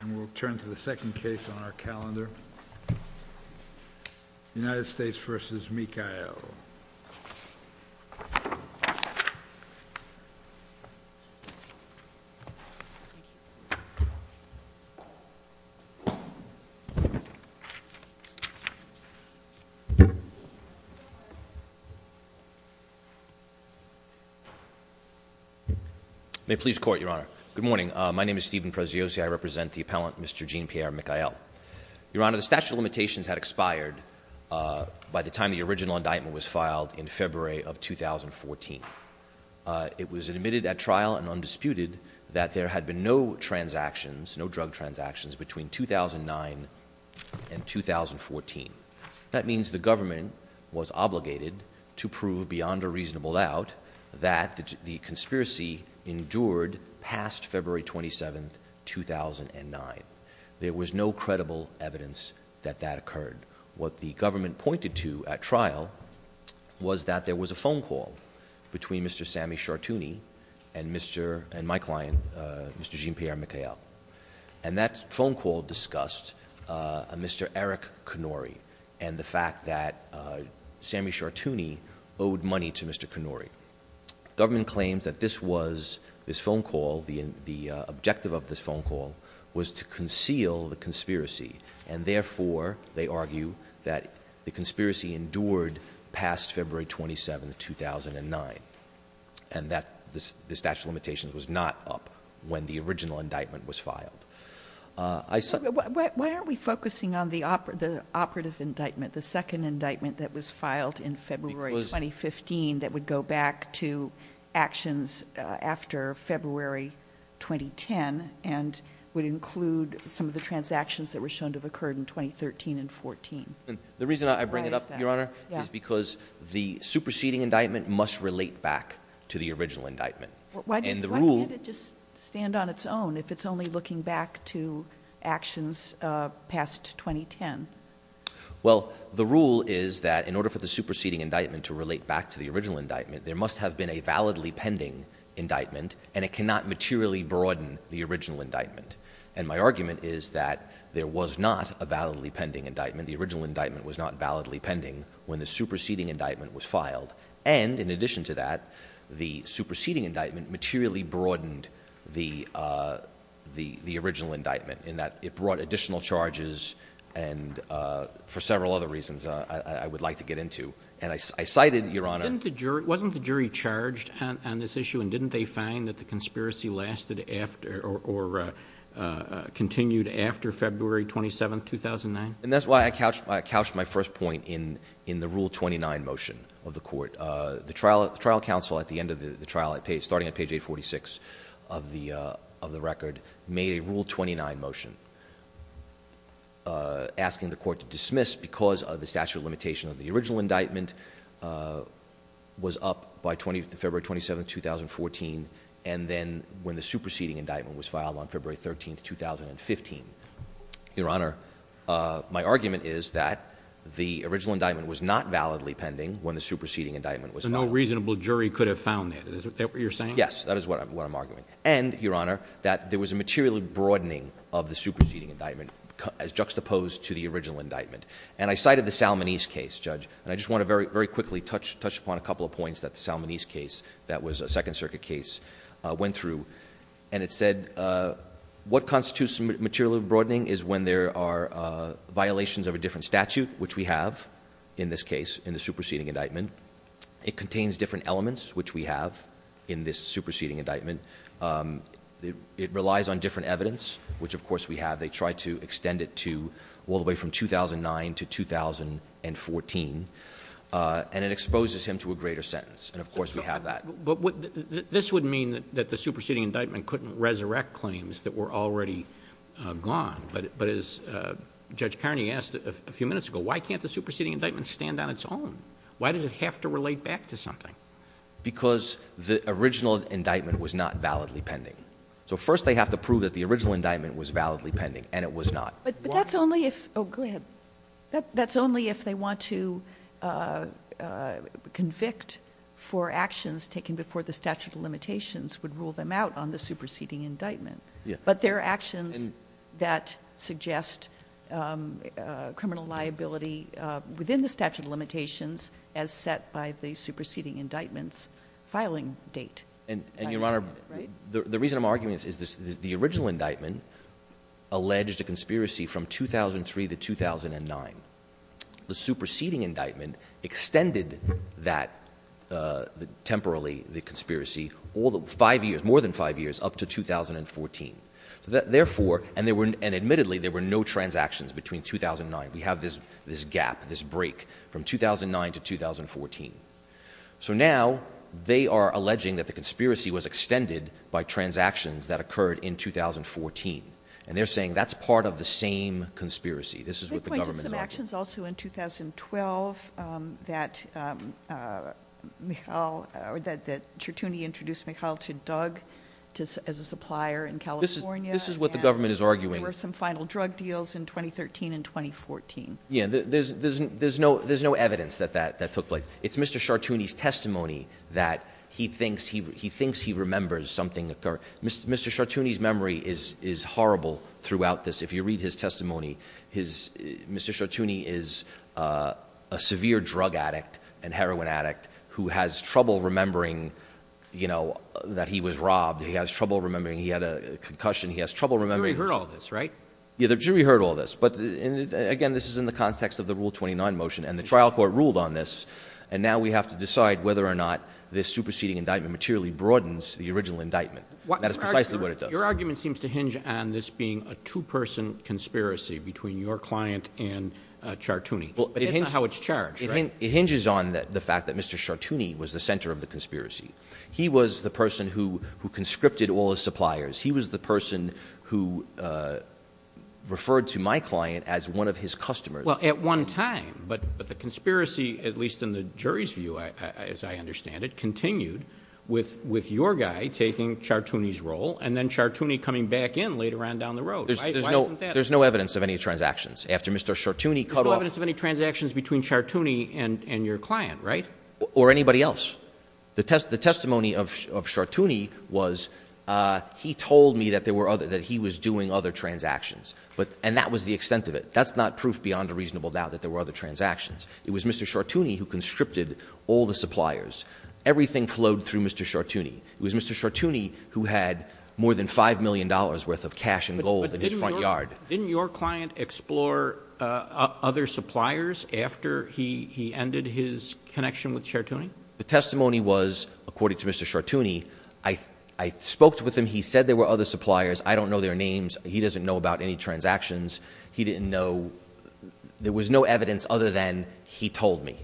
And we'll turn to the second case on our calendar, United States v. Micael. May it please the Court, Your Honor. Good morning, my name is Steven Proziosi, I represent the appellant, Mr. Jean Pierre Micael. Your Honor, the statute of limitations had expired by the time the original indictment was filed in February of 2014. It was admitted at trial and undisputed that there had been no transactions, no drug transactions between 2009 and 2014. That means the government was obligated to prove beyond a reasonable doubt that the conspiracy endured past February 27th, 2009. There was no credible evidence that that occurred. What the government pointed to at trial was that there was a phone call between Mr. Sammy Chartouni and my client, Mr. Jean Pierre Micael. And that phone call discussed a Mr. Eric Connori and the fact that Sammy Chartouni owed money to Mr. Connori. Government claims that this was, this phone call, the objective of this phone call, was to conceal the conspiracy. And therefore, they argue that the conspiracy endured past February 27th, 2009. And that the statute of limitations was not up when the original indictment was filed. I- It's only looking back to actions after February 2010, and would include some of the transactions that were shown to have occurred in 2013 and 14. The reason I bring it up, Your Honor, is because the superseding indictment must relate back to the original indictment. And the rule- Why can't it just stand on its own if it's only looking back to actions past 2010? Well, the rule is that in order for the superseding indictment to relate back to the original indictment, there must have been a validly pending indictment, and it cannot materially broaden the original indictment. And my argument is that there was not a validly pending indictment. The original indictment was not validly pending when the superseding indictment was filed. And, in addition to that, the superseding indictment materially broadened the original indictment in that it brought additional charges, and for several other reasons I would like to get into, and I cited, Your Honor- Wasn't the jury charged on this issue, and didn't they find that the conspiracy lasted after, or continued after February 27th, 2009? And that's why I couched my first point in the Rule 29 motion of the court. The trial counsel at the end of the trial, starting at page 846 of the record, made a Rule 29 motion. Asking the court to dismiss because of the statute of limitation of the original indictment was up by February 27th, 2014. And then when the superseding indictment was filed on February 13th, 2015. Your Honor, my argument is that the original indictment was not validly pending when the superseding indictment was filed. So no reasonable jury could have found it, is that what you're saying? Yes, that is what I'm arguing. And, Your Honor, that there was a material broadening of the superseding indictment as juxtaposed to the original indictment. And I cited the Salmonese case, Judge, and I just want to very quickly touch upon a couple of points that the Salmonese case, that was a second circuit case, went through. And it said, what constitutes material broadening is when there are violations of a different statute, which we have in this case, in the superseding indictment. It contains different elements, which we have in this superseding indictment. It relies on different evidence, which of course we have. They tried to extend it to all the way from 2009 to 2014, and it exposes him to a greater sentence. And of course we have that. But this would mean that the superseding indictment couldn't resurrect claims that were already gone. But as Judge Carney asked a few minutes ago, why can't the superseding indictment stand on its own? Why does it have to relate back to something? Because the original indictment was not validly pending. So first they have to prove that the original indictment was validly pending, and it was not. But that's only if, go ahead. That's only if they want to convict for actions taken before the statute of limitations would rule them out on the superseding indictment. But there are actions that suggest criminal liability within the statute of limitations as set by the superseding indictments filing date. And your honor, the reason I'm arguing this is the original indictment alleged a conspiracy from 2003 to 2009. The superseding indictment extended that, temporarily, the conspiracy more than five years up to 2014. Therefore, and admittedly, there were no transactions between 2009. We have this gap, this break from 2009 to 2014. So now, they are alleging that the conspiracy was extended by transactions that occurred in 2014. And they're saying that's part of the same conspiracy. This is what the government is arguing. They point to some actions also in 2012 that Certuni introduced Mikhail to Doug as a supplier in California. This is what the government is arguing. There were some final drug deals in 2013 and 2014. Yeah, there's no evidence that that took place. It's Mr. Certuni's testimony that he thinks he remembers something occurred. Mr. Certuni's memory is horrible throughout this. If you read his testimony, Mr. Certuni is a severe drug addict and heroin addict who has trouble remembering that he was robbed. He has trouble remembering he had a concussion. He has trouble remembering- The jury heard all this, right? Yeah, the jury heard all this. But again, this is in the context of the Rule 29 motion, and the trial court ruled on this. And now we have to decide whether or not this superseding indictment materially broadens the original indictment. That is precisely what it does. Your argument seems to hinge on this being a two-person conspiracy between your client and Certuni. But that's not how it's charged, right? It hinges on the fact that Mr. Certuni was the center of the conspiracy. He was the person who conscripted all the suppliers. He was the person who referred to my client as one of his customers. Well, at one time. But the conspiracy, at least in the jury's view as I understand it, continued with your guy taking Certuni's role, and then Certuni coming back in later on down the road, right? Why isn't that? There's no evidence of any transactions. After Mr. Certuni cut off- There's no evidence of any transactions between Certuni and your client, right? Or anybody else. The testimony of Certuni was, he told me that he was doing other transactions, and that was the extent of it. That's not proof beyond a reasonable doubt that there were other transactions. It was Mr. Certuni who conscripted all the suppliers. Everything flowed through Mr. Certuni. It was Mr. Certuni who had more than $5 million worth of cash and gold in his front yard. Didn't your client explore other suppliers after he ended his connection with Certuni? The testimony was, according to Mr. Certuni, I spoke with him. He said there were other suppliers. I don't know their names. He doesn't know about any transactions. He didn't know, there was no evidence other than he told me.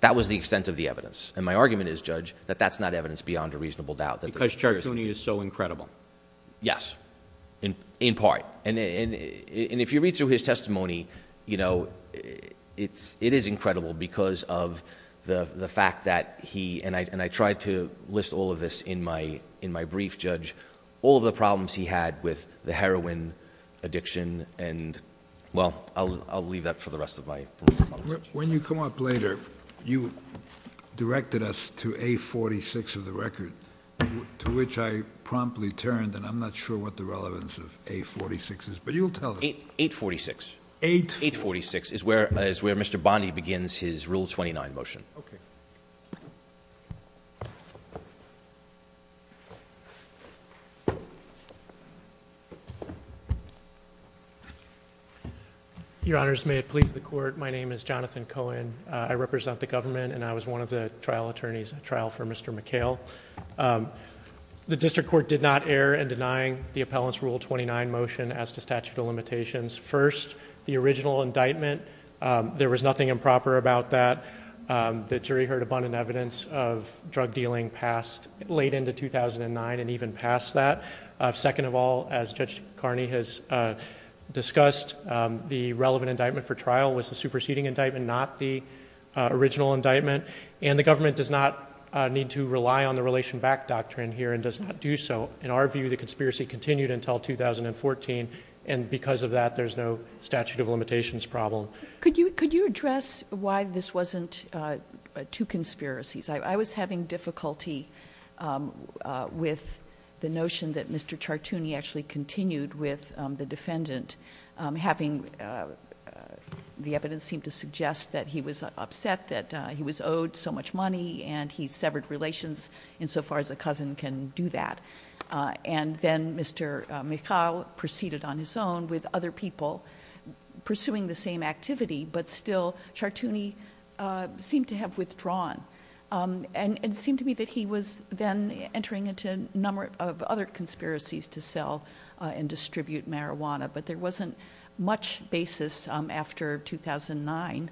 That was the extent of the evidence. And my argument is, Judge, that that's not evidence beyond a reasonable doubt. Because Certuni is so incredible. Yes, in part. And if you read through his testimony, it is incredible, because of the fact that he, and I tried to list all of this in my brief, Judge. All of the problems he had with the heroin addiction, and well, I'll leave that for the rest of my. When you come up later, you directed us to A46 of the record, to which I promptly turned, and I'm not sure what the relevance of A46 is, but you'll tell us. 846. 846 is where Mr. Bondi begins his Rule 29 motion. Okay. Your honors, may it please the court. My name is Jonathan Cohen. I represent the government, and I was one of the trial attorneys at trial for Mr. McHale. The district court did not air in denying the appellant's Rule 29 motion as to statute of limitations. First, the original indictment, there was nothing improper about that. The jury heard abundant evidence of drug dealing late into 2009 and even past that. Second of all, as Judge Carney has discussed, the relevant indictment for trial was the superseding indictment, not the original indictment. And the government does not need to rely on the relation back doctrine here, and does not do so. In our view, the conspiracy continued until 2014, and because of that, there's no statute of limitations problem. Could you address why this wasn't two conspiracies? I was having difficulty with the notion that Mr. Chartouni actually continued with the defendant, having whom the evidence seemed to suggest that he was upset that he was owed so much money and he severed relations insofar as a cousin can do that. And then Mr. McHale proceeded on his own with other people pursuing the same activity. But still, Chartouni seemed to have withdrawn. And it seemed to me that he was then entering into a number of other conspiracies to sell and distribute marijuana. But there wasn't much basis after 2009,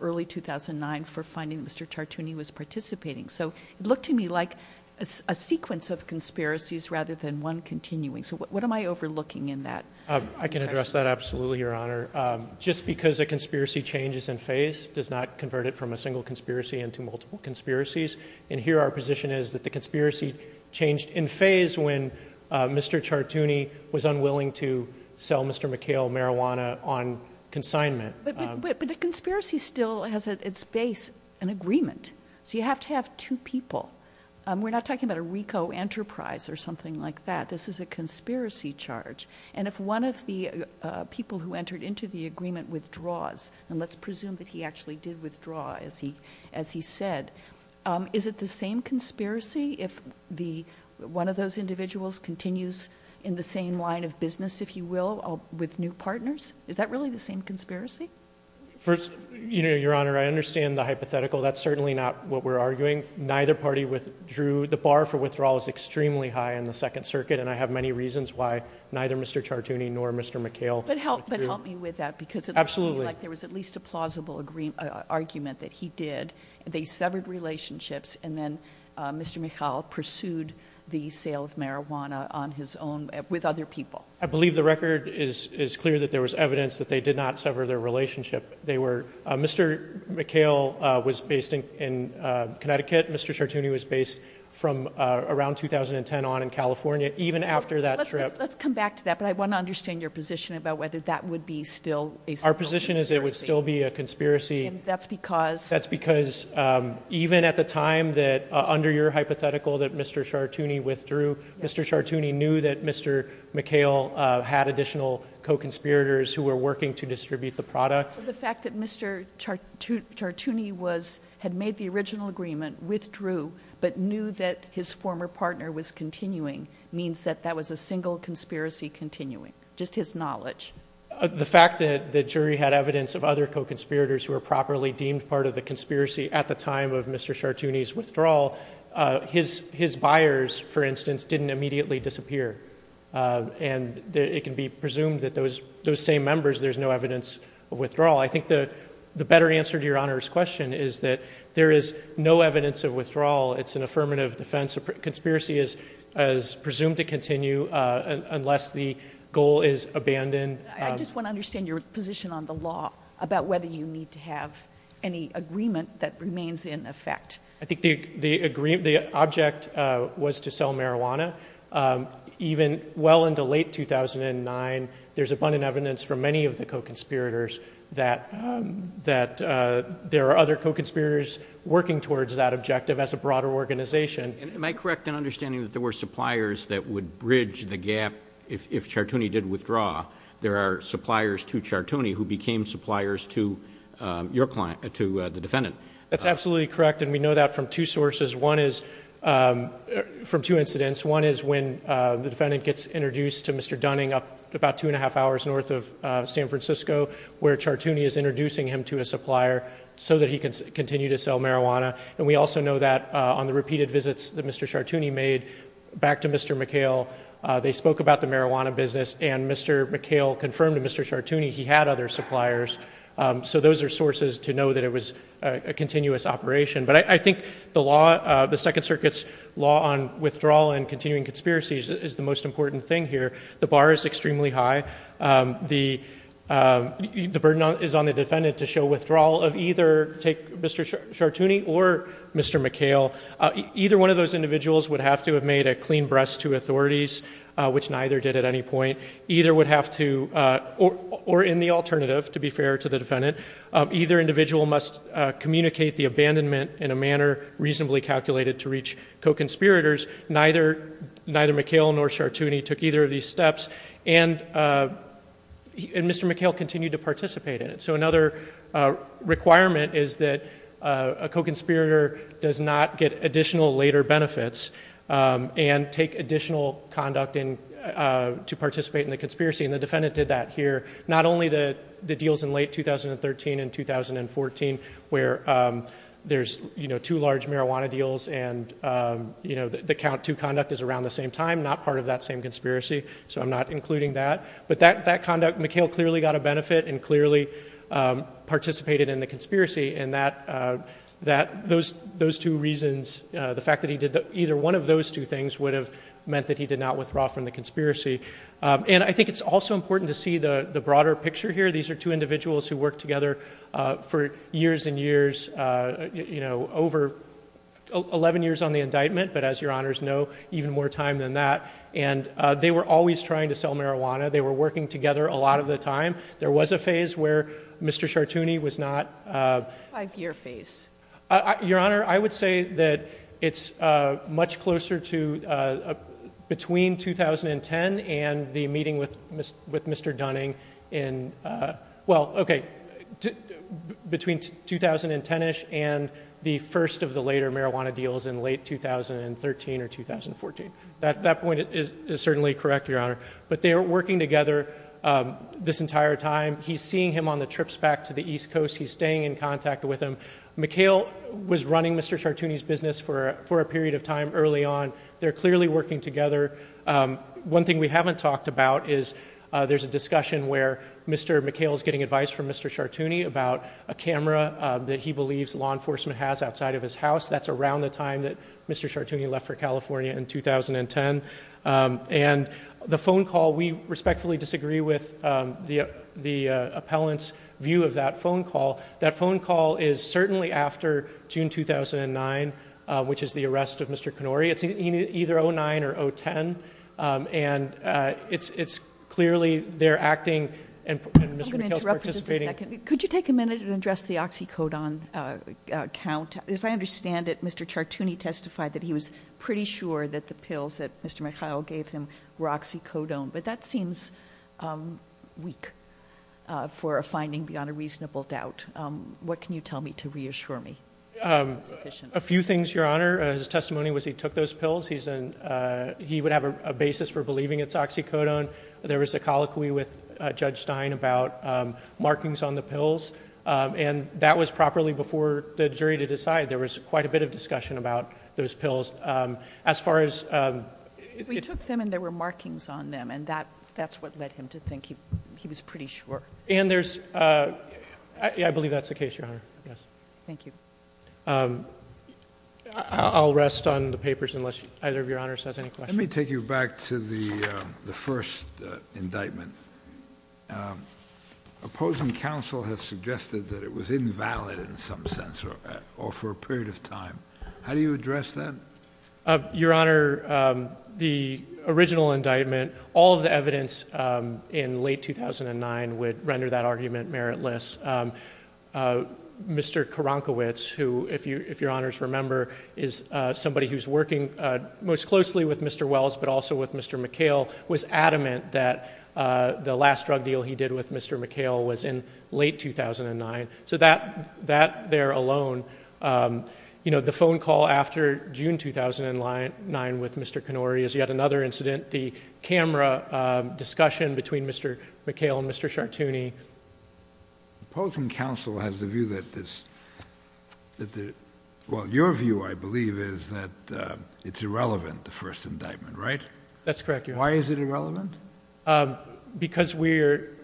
early 2009, for finding Mr. Chartouni was participating. So it looked to me like a sequence of conspiracies rather than one continuing. So what am I overlooking in that? I can address that absolutely, Your Honor. Just because a conspiracy changes in phase does not convert it from a single conspiracy into multiple conspiracies. And here our position is that the conspiracy changed in phase when Mr. Chartouni was unwilling to sell Mr. McHale marijuana on consignment. But the conspiracy still has at its base an agreement. So you have to have two people. We're not talking about a Rico Enterprise or something like that. This is a conspiracy charge. And if one of the people who entered into the agreement withdraws, and let's presume that he actually did withdraw as he said, is it the same conspiracy if one of those individuals continues in the same line of business, if you will, with new partners? Is that really the same conspiracy? First, Your Honor, I understand the hypothetical. That's certainly not what we're arguing. Neither party withdrew. The bar for withdrawal is extremely high in the Second Circuit. And I have many reasons why neither Mr. Chartouni nor Mr. McHale withdrew. But help me with that because it looked to me like there was at least a plausible argument that he did. They severed relationships and then Mr. McHale pursued the sale of marijuana on his own with other people. I believe the record is clear that there was evidence that they did not sever their relationship. They were, Mr. McHale was based in Connecticut. Mr. Chartouni was based from around 2010 on in California. Even after that trip- Let's come back to that, but I want to understand your position about whether that would be still a simple conspiracy. Our position is it would still be a conspiracy. That's because- That's because even at the time that, under your hypothetical that Mr. Chartouni withdrew, Mr. Chartouni knew that Mr. McHale had additional co-conspirators who were working to distribute the product. The fact that Mr. Chartouni had made the original agreement, withdrew, but knew that his former partner was continuing means that that was a single conspiracy continuing. Just his knowledge. The fact that the jury had evidence of other co-conspirators who were properly deemed part of the conspiracy at the time of Mr. Chartouni's withdrawal, his buyers, for instance, didn't immediately disappear. And it can be presumed that those same members, there's no evidence of withdrawal. I think the better answer to your Honor's question is that there is no evidence of withdrawal. It's an affirmative defense. Conspiracy is presumed to continue unless the goal is abandoned. I just want to understand your position on the law about whether you need to have any agreement that remains in effect. I think the object was to sell marijuana. Even well into late 2009, there's abundant evidence for many of the co-conspirators that there are other co-conspirators working towards that objective as a broader organization. And am I correct in understanding that there were suppliers that would bridge the gap if Chartouni did withdraw? There are suppliers to Chartouni who became suppliers to your client, to the defendant. That's absolutely correct, and we know that from two sources. One is, from two incidents. One is when the defendant gets introduced to Mr. Dunning about two and a half hours north of San Francisco, where Chartouni is introducing him to a supplier so that he can continue to sell marijuana. And we also know that on the repeated visits that Mr. Chartouni made back to Mr. McHale. They spoke about the marijuana business, and Mr. McHale confirmed to Mr. Chartouni he had other suppliers. So those are sources to know that it was a continuous operation. But I think the Second Circuit's law on withdrawal and continuing conspiracies is the most important thing here. The bar is extremely high. The burden is on the defendant to show withdrawal of either, take Mr. Chartouni or Mr. McHale. Either one of those individuals would have to have made a clean breast to authorities, which neither did at any point. Either would have to, or in the alternative, to be fair to the defendant, either individual must communicate the abandonment in a manner reasonably calculated to reach co-conspirators. Neither McHale nor Chartouni took either of these steps, and Mr. McHale continued to participate in it. So another requirement is that a co-conspirator does not get additional later benefits and take additional conduct to participate in the conspiracy, and the defendant did that here. Not only the deals in late 2013 and 2014, where there's two large marijuana deals, and the count to conduct is around the same time, not part of that same conspiracy, so I'm not including that. But that conduct, McHale clearly got a benefit and clearly participated in the conspiracy. And those two reasons, the fact that he did either one of those two things would have meant that he did not withdraw from the conspiracy. And I think it's also important to see the broader picture here. These are two individuals who worked together for years and years, over 11 years on the indictment. But as your honors know, even more time than that. And they were always trying to sell marijuana. They were working together a lot of the time. There was a phase where Mr. Chartouni was not- Five year phase. Your honor, I would say that it's much closer to between 2010 and the meeting with Mr. Dunning in, well, okay. Between 2010ish and the first of the later marijuana deals in late 2013 or 2014. That point is certainly correct, your honor. But they were working together this entire time. He's seeing him on the trips back to the east coast. He's staying in contact with him. McHale was running Mr. Chartouni's business for a period of time early on. They're clearly working together. One thing we haven't talked about is there's a discussion where Mr. McHale's getting advice from Mr. Chartouni about a camera that he believes law enforcement has outside of his house. That's around the time that Mr. Chartouni left for California in 2010. And the phone call, we respectfully disagree with the appellant's view of that phone call. That phone call is certainly after June 2009, which is the arrest of Mr. Connori, it's either 09 or 010, and it's clearly they're acting and Mr. McHale's participating- I'm going to interrupt for just a second. Could you take a minute and address the oxycodone count? As I understand it, Mr. Chartouni testified that he was pretty sure that the pills that Mr. McHale gave him were oxycodone. But that seems weak for a finding beyond a reasonable doubt. What can you tell me to reassure me? A few things, Your Honor. His testimony was he took those pills. He would have a basis for believing it's oxycodone. There was a colloquy with Judge Stein about markings on the pills. And that was properly before the jury to decide. There was quite a bit of discussion about those pills. As far as- We took them and there were markings on them, and that's what led him to think he was pretty sure. And there's- I believe that's the case, Your Honor. Yes. Thank you. I'll rest on the papers unless either of Your Honors has any questions. Let me take you back to the first indictment. Opposing counsel has suggested that it was invalid in some sense, or for a period of time. How do you address that? Your Honor, the original indictment, all of the evidence in late 2009 would render that argument meritless. Mr. Karankowitz, who if Your Honors remember, is somebody who's working most closely with Mr. Wells, but also with Mr. McHale, was adamant that the last drug deal he did with Mr. McHale was in late 2009. So that there alone, the phone call after June 2009 with Mr. Kennory is yet another incident. The camera discussion between Mr. McHale and Mr. Chartouni. Opposing counsel has a view that this- Well, your view, I believe, is that it's irrelevant, the first indictment, right? That's correct, Your Honor. Why is it irrelevant? Because we're,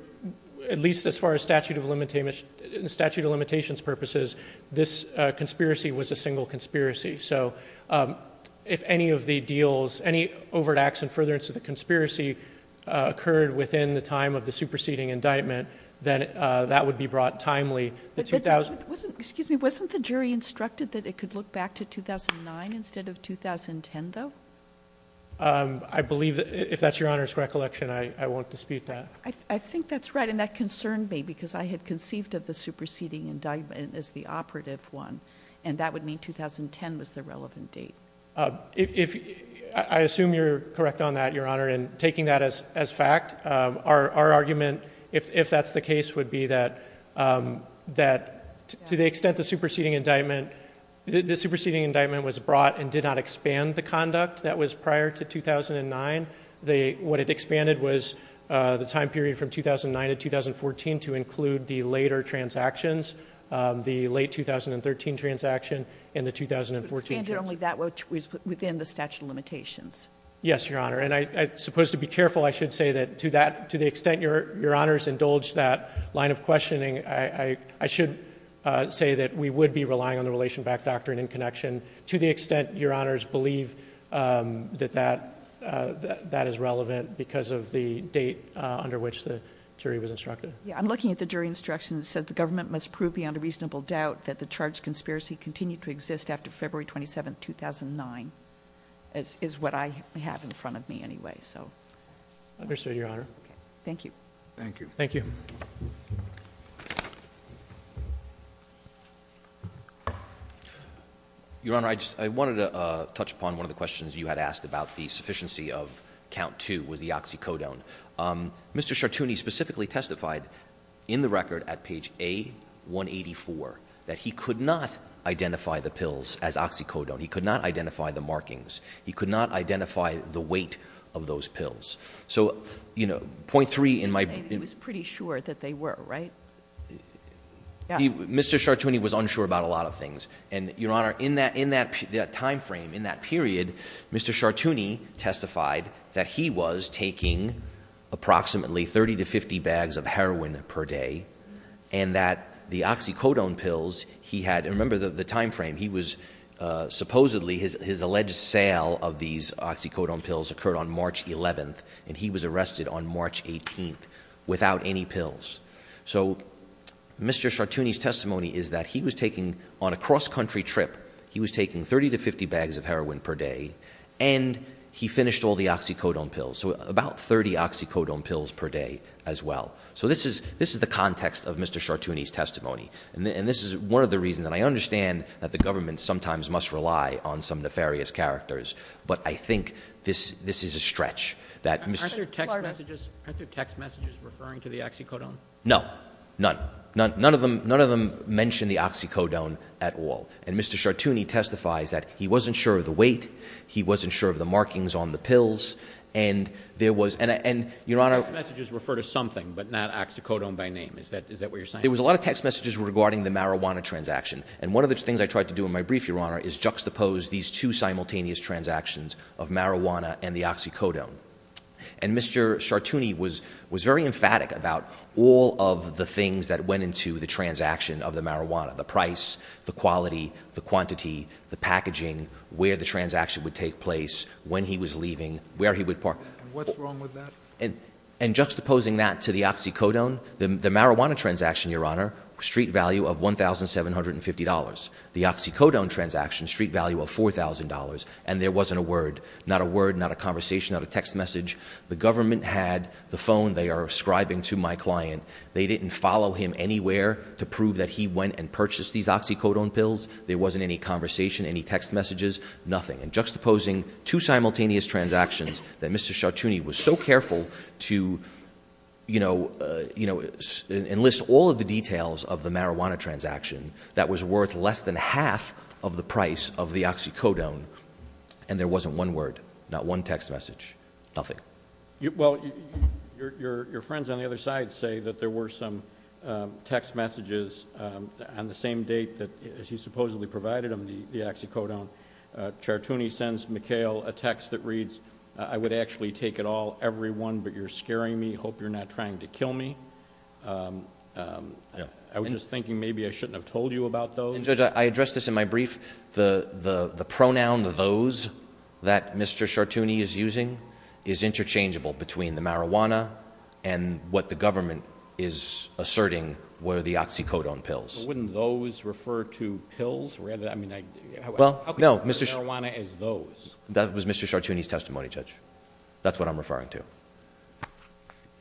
at least as far as statute of limitations purposes, this conspiracy was a single conspiracy, so if any of the deals, any overt acts in furtherance of the conspiracy occurred within the time of the superseding indictment, then that would be brought timely to 2000- Excuse me, wasn't the jury instructed that it could look back to 2009 instead of 2010, though? I believe, if that's Your Honor's recollection, I won't dispute that. I think that's right, and that concerned me, because I had conceived of the superseding indictment as the operative one. And that would mean 2010 was the relevant date. I assume you're correct on that, Your Honor, and taking that as fact, our argument, if that's the case, would be that to the extent the superseding indictment was brought and did not expand the conduct that was prior to 2009, what it expanded was the time period from 2009 to 2014 to include the later transactions, the late 2013 transaction and the 2014 transaction. Expanded only that which was within the statute of limitations. Yes, Your Honor, and I suppose to be careful, I should say that to the extent Your Honors indulged that line of questioning, I should say that we would be relying on the relation back doctrine in connection to the extent Your Honors believe that that is relevant because of the date under which the jury was instructed. Yeah, I'm looking at the jury instruction that says the government must prove beyond a reasonable doubt that the charged conspiracy continued to exist after February 27, 2009. Is what I have in front of me anyway, so. Understood, Your Honor. Thank you. Thank you. Thank you. Your Honor, I wanted to touch upon one of the questions you had asked about the sufficiency of count two with the oxycodone. Mr. Chartouni specifically testified in the record at page A184 that he could not identify the pills as oxycodone. He could not identify the markings. He could not identify the weight of those pills. So, point three in my- He was pretty sure that they were, right? Yeah. Mr. Chartouni was unsure about a lot of things. And Your Honor, in that time frame, in that period, Mr. Chartouni testified that he was taking approximately 30 to 50 bags of heroin per day. And that the oxycodone pills he had, and remember the time frame, he was supposedly, his alleged sale of these oxycodone pills occurred on March 11th. And he was arrested on March 18th without any pills. So, Mr. Chartouni's testimony is that he was taking, on a cross country trip, he was taking 30 to 50 bags of heroin per day, and he finished all the oxycodone pills. So, about 30 oxycodone pills per day as well. So, this is the context of Mr. Chartouni's testimony. And this is one of the reasons that I understand that the government sometimes must rely on some nefarious characters. But I think this is a stretch that- Aren't there text messages referring to the oxycodone? No, none. None of them mention the oxycodone at all. And Mr. Chartouni testifies that he wasn't sure of the weight, he wasn't sure of the markings on the pills. And there was, and Your Honor- Text messages refer to something, but not oxycodone by name. Is that what you're saying? There was a lot of text messages regarding the marijuana transaction. And one of the things I tried to do in my brief, Your Honor, is juxtapose these two simultaneous transactions of marijuana and the oxycodone. And Mr. Chartouni was very emphatic about all of the things that went into the transaction of the marijuana. The price, the quality, the quantity, the packaging, where the transaction would take place, when he was leaving, where he would park. What's wrong with that? And juxtaposing that to the oxycodone, the marijuana transaction, Your Honor, street value of $1,750. The oxycodone transaction, street value of $4,000, and there wasn't a word. Not a word, not a conversation, not a text message. The government had the phone they are ascribing to my client. They didn't follow him anywhere to prove that he went and purchased these oxycodone pills. There wasn't any conversation, any text messages, nothing. And juxtaposing two simultaneous transactions that Mr. Chartouni was so careful to enlist all of the details of the marijuana transaction. That was worth less than half of the price of the oxycodone. And there wasn't one word, not one text message, nothing. Well, your friends on the other side say that there were some text messages on the same date that he supposedly provided them the oxycodone. Chartouni sends McHale a text that reads, I would actually take it all, everyone, but you're scaring me. Hope you're not trying to kill me. I was just thinking maybe I shouldn't have told you about those. And Judge, I addressed this in my brief. The pronoun those that Mr. Chartouni is using is interchangeable between the marijuana and what the government is asserting were the oxycodone pills. Wouldn't those refer to pills? Rather, I mean, I- Well, no, Mr. Marijuana is those. That was Mr. Chartouni's testimony, Judge. That's what I'm referring to.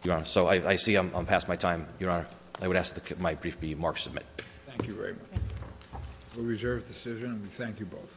Your Honor, so I see I'm past my time. Your Honor, I would ask that my brief be marked and submitted. Thank you very much. We reserve the decision and we thank you both. Thank you, Your Honor.